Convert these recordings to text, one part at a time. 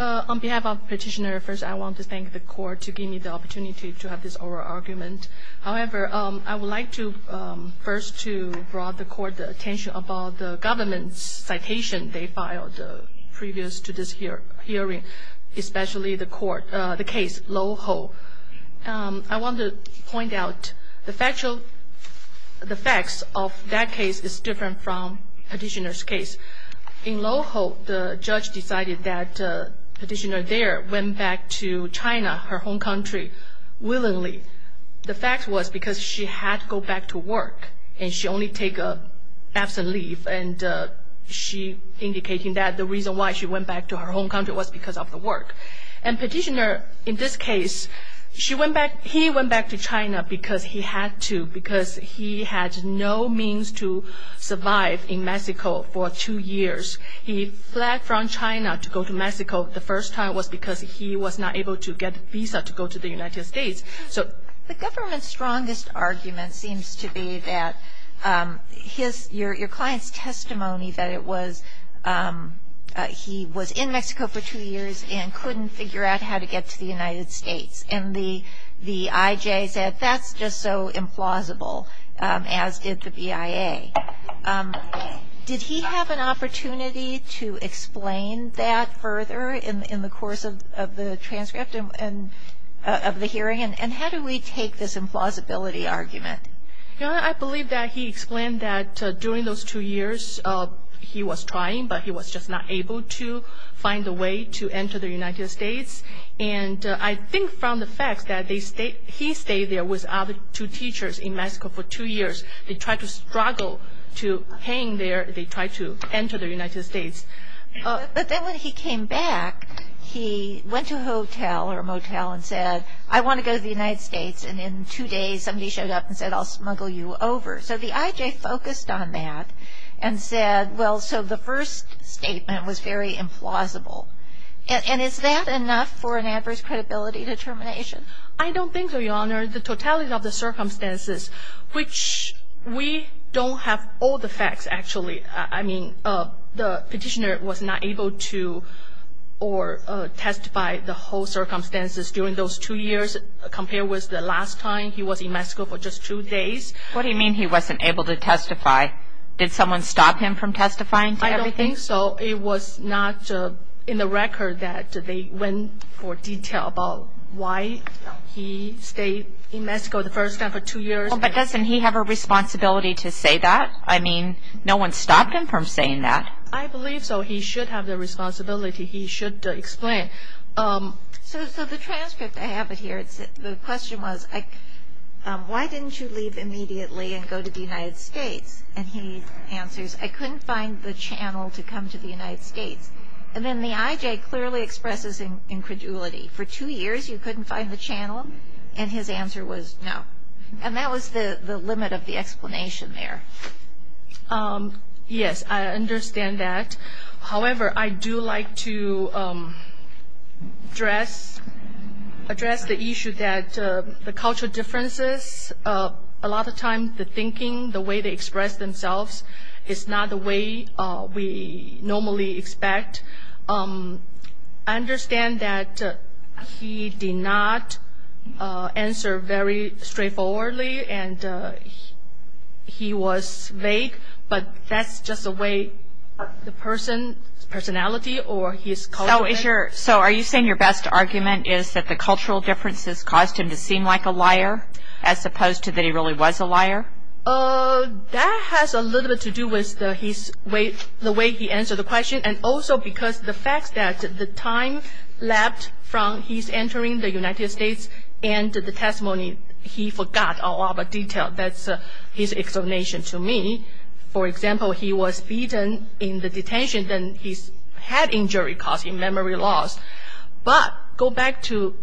On behalf of petitioner, first I want to thank the court to give me the opportunity to have this oral argument. However, I would like to first to draw the court's attention about the government's citation they filed previous to this hearing, especially the court, the case Lo Ho. I want to point out the factual, the facts of that case is different from petitioner's case. In Lo Ho, the judge decided that petitioner there went back to China, her home country, willingly. The fact was because she had to go back to work, and she only took an absent leave, and she indicated that the reason why she went back to her home country was because of the work. And petitioner, in this case, he went back to China because he had to, he had to survive in Mexico for two years. He fled from China to go to Mexico. The first time was because he was not able to get a visa to go to the United States. So the government's strongest argument seems to be that your client's testimony, that it was he was in Mexico for two years and couldn't figure out how to get to the United States. And the IJ said that's just so implausible, as is the BIA. Did he have an opportunity to explain that further in the course of the transcript of the hearing? And how do we take this implausibility argument? You know, I believe that he explained that during those two years he was trying, but he was just not able to find a way to enter the United States. And I think from the fact that he stayed there with other two teachers in Mexico for two years. They tried to struggle to hang there. They tried to enter the United States. But then when he came back, he went to a hotel or a motel and said, I want to go to the United States. And in two days somebody showed up and said, I'll smuggle you over. So the IJ focused on that and said, well, so the first statement was very implausible. And is that enough for an adverse credibility determination? I don't think so, Your Honor. The totality of the circumstances, which we don't have all the facts, actually. I mean, the petitioner was not able to testify the whole circumstances during those two years, compared with the last time he was in Mexico for just two days. What do you mean he wasn't able to testify? Did someone stop him from testifying to everything? I don't think so. It was not in the record that they went for detail about why he stayed in Mexico the first time for two years. But doesn't he have a responsibility to say that? I mean, no one stopped him from saying that. I believe so. He should have the responsibility. He should explain. So the transcript, I have it here. The question was, why didn't you leave immediately and go to the United States? And he answers, I couldn't find the channel to come to the United States. And then the IJ clearly expresses incredulity. For two years you couldn't find the channel? And his answer was no. And that was the limit of the explanation there. Yes, I understand that. However, I do like to address the issue that the cultural differences, a lot of times the thinking, the way they express themselves is not the way we normally expect. I understand that he did not answer very straightforwardly and he was vague, but that's just the way the person's personality or his culture. So are you saying your best argument is that the cultural differences caused him to seem like a liar, as opposed to that he really was a liar? That has a little bit to do with the way he answered the question and also because the fact that the time left from his entering the United States and the testimony, he forgot all of the detail. That's his explanation to me. For example, he was beaten in the detention. Then he had injury causing memory loss. But go back to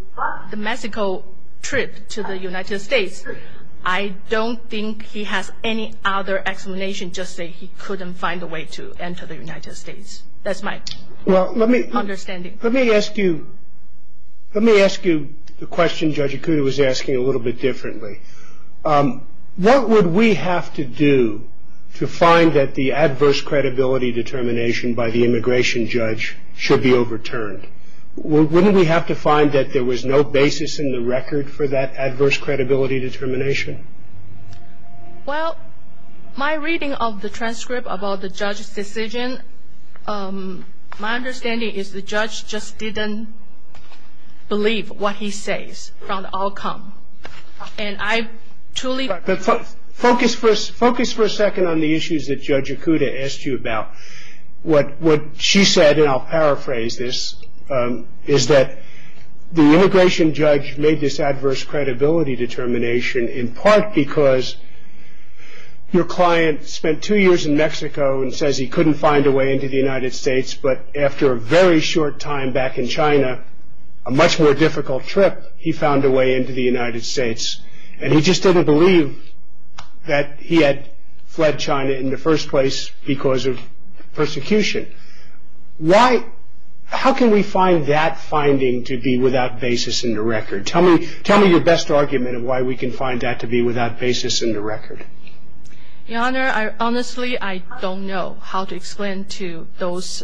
the Mexico trip to the United States, I don't think he has any other explanation just that he couldn't find a way to enter the United States. That's my understanding. Let me ask you the question Judge Ikuda was asking a little bit differently. What would we have to do to find that the adverse credibility determination by the immigration judge should be overturned? Wouldn't we have to find that there was no basis in the record for that adverse credibility determination? Well, my reading of the transcript about the judge's decision, my understanding is the judge just didn't believe what he says from the outcome. And I truly... Focus for a second on the issues that Judge Ikuda asked you about. What she said, and I'll paraphrase this, is that the immigration judge made this adverse credibility determination in part because your client spent two years in Mexico and says he couldn't find a way into the United States, but after a very short time back in China, a much more difficult trip, he found a way into the United States. And he just didn't believe that he had fled China in the first place because of persecution. How can we find that finding to be without basis in the record? Tell me your best argument of why we can find that to be without basis in the record. Your Honor, honestly, I don't know how to explain to those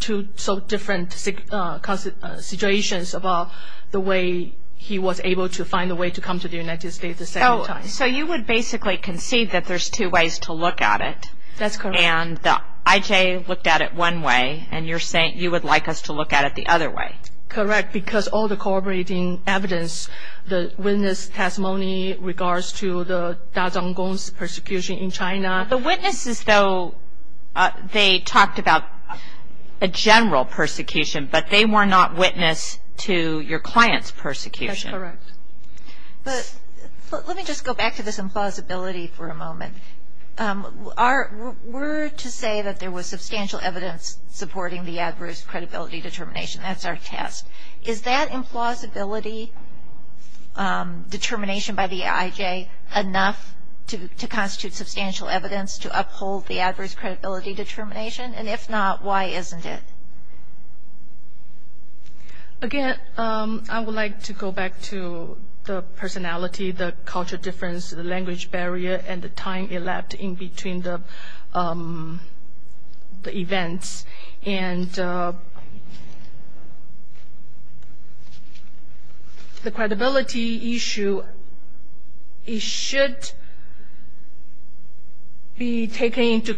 two so different situations about the way he was able to find a way to come to the United States the second time. So you would basically concede that there's two ways to look at it. That's correct. And the IJ looked at it one way, and you're saying you would like us to look at it the other way. Correct, because all the corroborating evidence, the witness testimony regards to the Dazhong Gong's persecution in China. The witnesses, though, they talked about a general persecution, but they were not witness to your client's persecution. That's correct. But let me just go back to this implausibility for a moment. We're to say that there was substantial evidence supporting the adverse credibility determination. That's our test. Is that implausibility determination by the IJ enough to constitute substantial evidence to uphold the adverse credibility determination? And if not, why isn't it? Again, I would like to go back to the personality, the culture difference, the language barrier, and the time elapsed in between the events. And the credibility issue, it should be taken into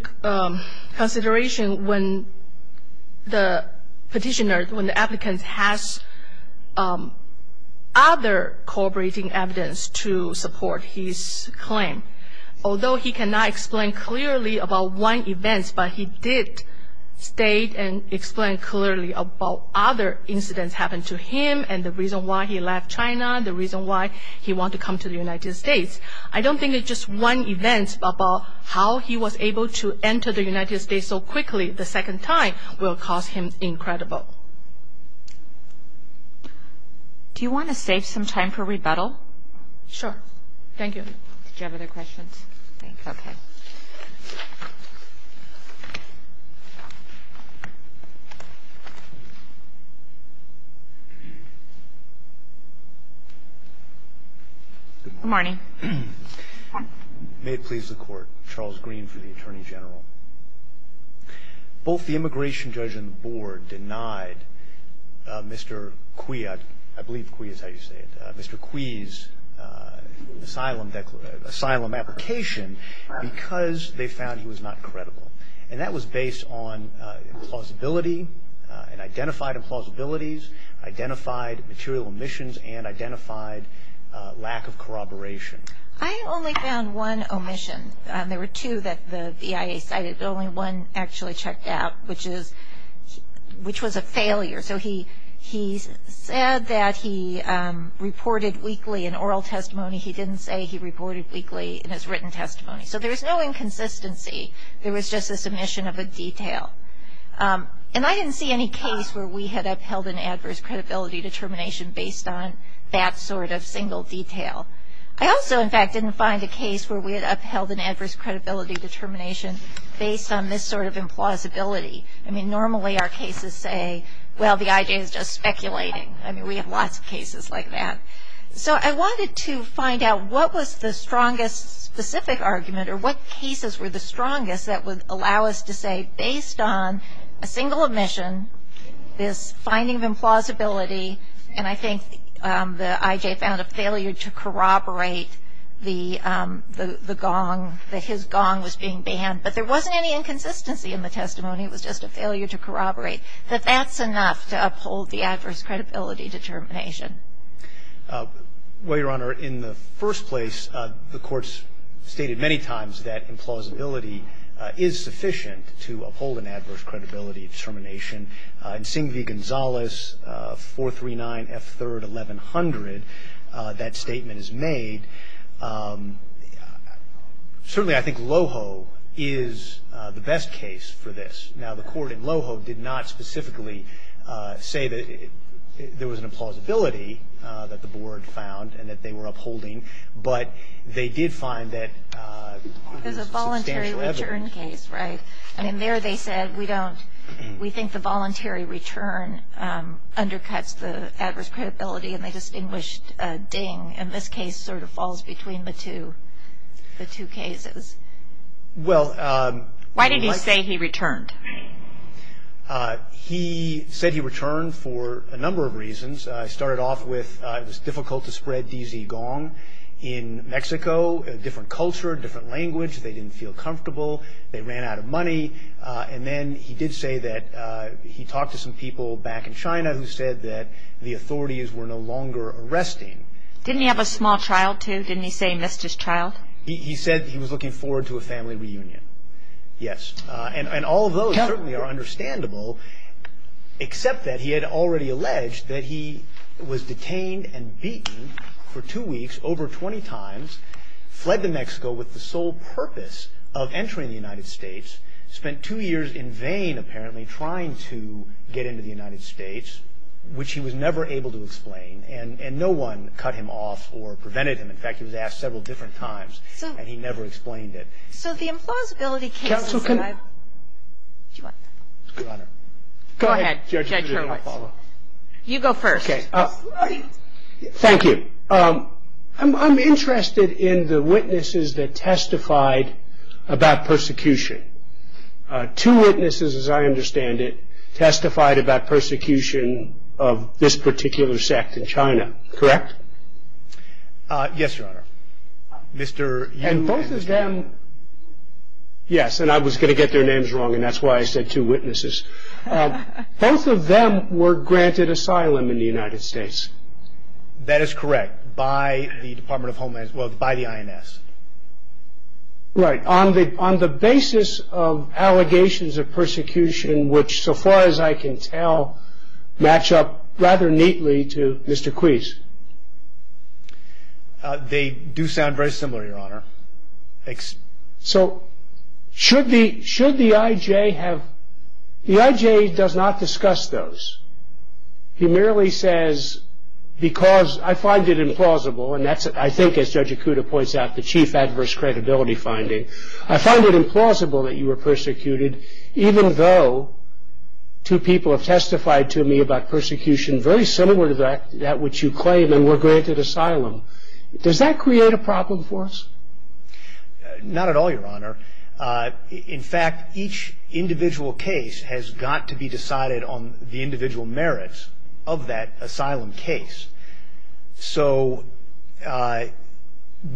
consideration when the petitioner, when the applicant has other corroborating evidence to support his claim. Although he cannot explain clearly about one event, but he did state and explain clearly about other incidents happened to him and the reason why he left China, the reason why he wanted to come to the United States. I don't think it's just one event about how he was able to enter the United States so quickly the second time will cause him incredible. Do you want to save some time for rebuttal? Sure. Thank you. Do you have other questions? Okay. Good morning. May it please the Court. Charles Green for the Attorney General. Both the immigration judge and the board denied Mr. Cui, I believe Cui is how you say it, Mr. Cui's asylum application because they found he was not credible. And that was based on plausibility and identified implausibilities, identified material omissions, and identified lack of corroboration. I only found one omission. There were two that the EIA cited, but only one actually checked out, which was a failure. So he said that he reported weekly in oral testimony. He didn't say he reported weekly in his written testimony. So there's no inconsistency. There was just a submission of a detail. And I didn't see any case where we had upheld an adverse credibility determination based on that sort of single detail. I also, in fact, didn't find a case where we had upheld an adverse credibility determination based on this sort of implausibility. I mean, normally our cases say, well, the IJ is just speculating. I mean, we have lots of cases like that. So I wanted to find out what was the strongest specific argument or what cases were the strongest that would allow us to say based on a single omission, this finding of implausibility, and I think the IJ found a failure to corroborate the gong, that his gong was being banned. But there wasn't any inconsistency in the testimony. It was just a failure to corroborate. That that's enough to uphold the adverse credibility determination. Well, Your Honor, in the first place, the Court's stated many times that implausibility is sufficient to uphold an adverse credibility determination. In Singh v. Gonzales, 439 F. 3rd, 1100, that statement is made. Certainly, I think Loho is the best case for this. Now, the Court in Loho did not specifically say that there was an implausibility that the Board found and that they were upholding, but they did find that there was substantial evidence. There's a voluntary return case, right? I mean, there they said we think the voluntary return undercuts the adverse credibility, and they distinguished Ding, and this case sort of falls between the two cases. Well, Why did he say he returned? He said he returned for a number of reasons. It started off with it was difficult to spread DZ gong in Mexico, different culture, different language, they didn't feel comfortable, they ran out of money. And then he did say that he talked to some people back in China who said that the authorities were no longer arresting. Didn't he have a small child, too? Didn't he say he missed his child? He said he was looking forward to a family reunion. Yes. And all of those certainly are understandable, except that he had already alleged that he was detained and beaten for two weeks over 20 times, fled to Mexico with the sole purpose of entering the United States, spent two years in vain, apparently, trying to get into the United States, which he was never able to explain. And no one cut him off or prevented him. In fact, he was asked several different times, and he never explained it. So the implausibility cases that I've Counsel, can I What? Your Honor. Go ahead, Judge Hurwitz. You go first. Okay. Thank you. I'm interested in the witnesses that testified about persecution. Two witnesses, as I understand it, testified about persecution of this particular sect in China, correct? Yes, Your Honor. Mr. And both of them, yes, and I was going to get their names wrong, and that's why I said two witnesses. Both of them were granted asylum in the United States. That is correct, by the Department of Homeland Security, well, by the INS. Right. On the basis of allegations of persecution, which, so far as I can tell, match up rather neatly to Mr. Queese. They do sound very similar, Your Honor. Thanks. So should the IJ have The IJ does not discuss those. He merely says, because I find it implausible, and that's, I think, as Judge Ikuda points out, the chief adverse credibility finding, I find it implausible that you were persecuted, even though two people have testified to me about persecution very similar to that which you claim and were granted asylum. Does that create a problem for us? Not at all, Your Honor. In fact, each individual case has got to be decided on the individual merits of that asylum case. So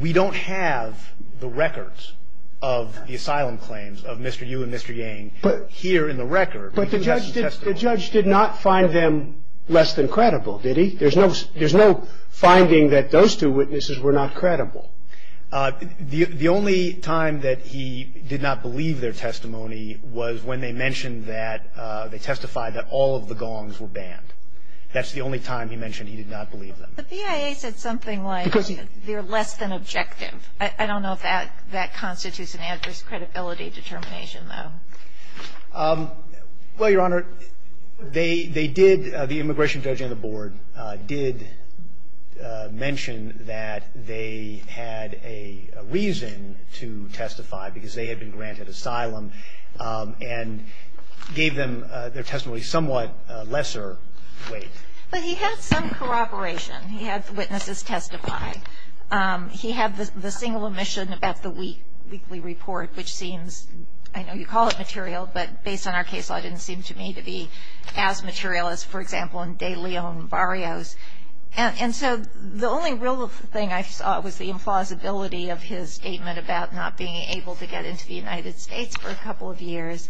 we don't have the records of the asylum claims of Mr. Yu and Mr. Yang here in the record. But the judge did not find them less than credible, did he? There's no finding that those two witnesses were not credible. The only time that he did not believe their testimony was when they mentioned that they testified that all of the gongs were banned. That's the only time he mentioned he did not believe them. But the PIA said something like they're less than objective. I don't know if that constitutes an adverse credibility determination, though. Well, Your Honor, they did, the immigration judge and the board did mention that they had a reason to testify because they had been granted asylum and gave them their testimony somewhat lesser weight. But he had some corroboration. He had the witnesses testify. He had the single omission about the weekly report, which seems, I know you call it material, but based on our case law, it didn't seem to me to be as material as, for example, in De Leon Barrios. And so the only real thing I saw was the implausibility of his statement about not being able to get into the United States for a couple of years.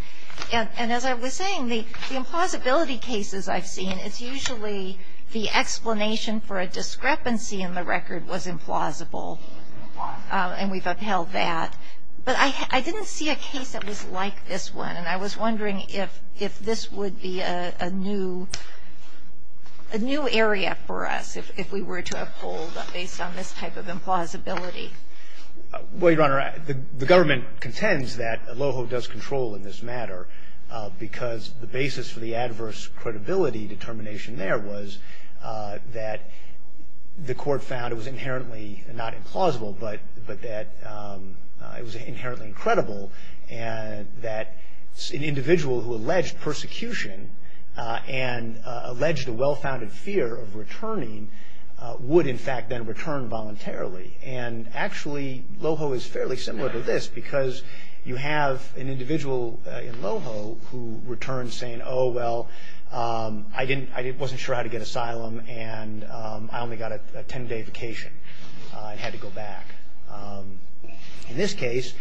And as I was saying, the implausibility cases I've seen, it's usually the explanation for a discrepancy in the record was implausible. And we've upheld that. But I didn't see a case that was like this one. And I was wondering if this would be a new area for us if we were to uphold based on this type of implausibility. Well, Your Honor, the government contends that Aloho does control in this matter because the basis for the adverse credibility determination there was that the court found it was inherently not implausible but that it was inherently incredible and that an individual who alleged persecution and alleged a well-founded fear of returning would, in fact, then return voluntarily. And actually, Aloho is fairly similar to this because you have an individual in Aloho who returns saying, oh, well, I wasn't sure how to get asylum and I only got a ten-day vacation and had to go back. In this case,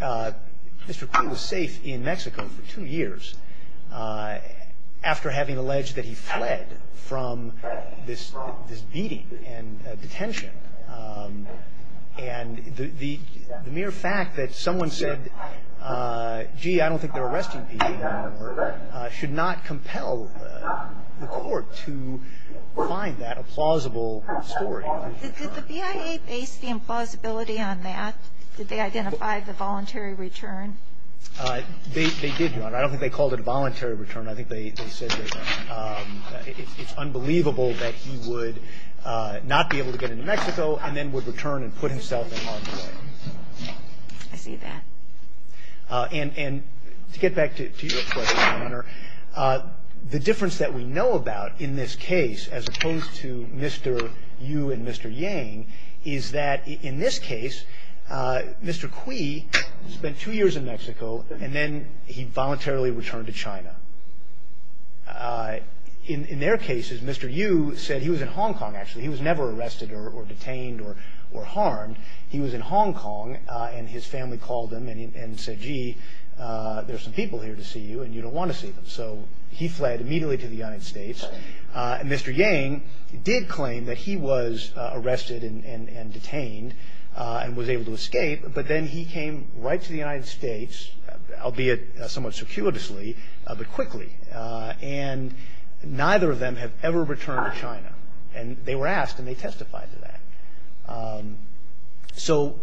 Mr. Queen was safe in Mexico for two years after having alleged that he fled from this beating and detention. And the mere fact that someone said, gee, I don't think they're arresting people anymore, should not compel the court to find that a plausible story. Did the BIA base the implausibility on that? Did they identify the voluntary return? They did, Your Honor. I don't think they called it a voluntary return. I think they said that it's unbelievable that he would not be able to get into Mexico and then would return and put himself in harm's way. I see that. And to get back to your question, Your Honor, the difference that we know about in this case, as opposed to Mr. Yu and Mr. Yang, is that in this case, Mr. Queen spent two years in Mexico and then he voluntarily returned to China. In their cases, Mr. Yu said he was in Hong Kong, actually. He was never arrested or detained or harmed. He was in Hong Kong and his family called him and said, gee, there are some people here to see you and you don't want to see them. So he fled immediately to the United States. And Mr. Yang did claim that he was arrested and detained and was able to escape, but then he came right to the United States, albeit somewhat circuitously, but quickly. And neither of them have ever returned to China. And they were asked and they testified to that. So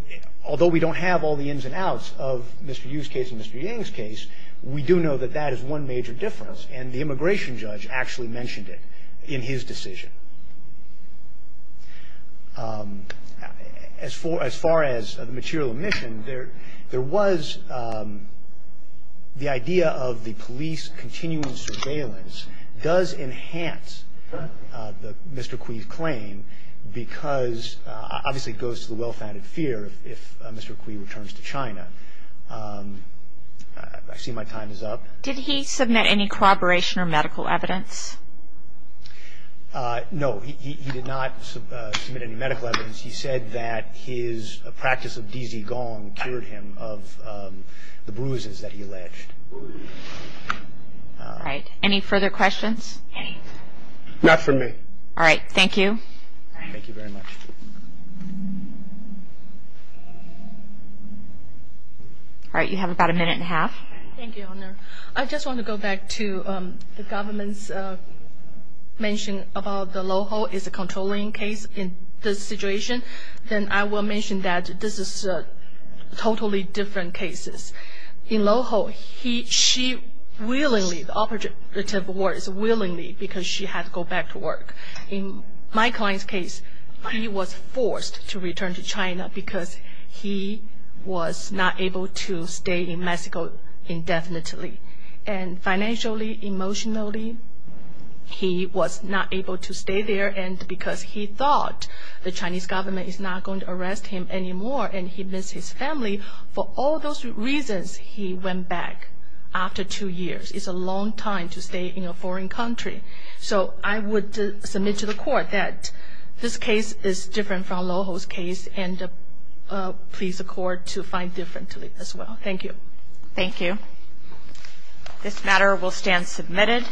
although we don't have all the ins and outs of Mr. Yu's case and Mr. Yang's case, we do know that that is one major difference. And the immigration judge actually mentioned it in his decision. As far as the material omission, there was the idea of the police continuing surveillance does enhance Mr. Kui's claim because obviously it goes to the well-founded fear if Mr. Kui returns to China. I see my time is up. Did he submit any corroboration or medical evidence? No, he did not submit any medical evidence. He said that his practice of dizzy gong cured him of the bruises that he alleged. All right, any further questions? Not for me. All right, thank you. Thank you very much. All right, you have about a minute and a half. Thank you, Your Honor. I just want to go back to the government's mention about the Loho is a controlling case in this situation. Then I will mention that this is totally different cases. In Loho, she willingly, the operative word is willingly because she had to go back to work. In my client's case, he was forced to return to China because he was not able to stay in Mexico indefinitely. And financially, emotionally, he was not able to stay there and because he thought the Chinese government is not going to arrest him anymore and he missed his family, for all those reasons, he went back after two years. It's a long time to stay in a foreign country. So I would submit to the court that this case is different from Loho's case and please the court to find differently as well. Thank you. Thank you. This matter will stand submitted.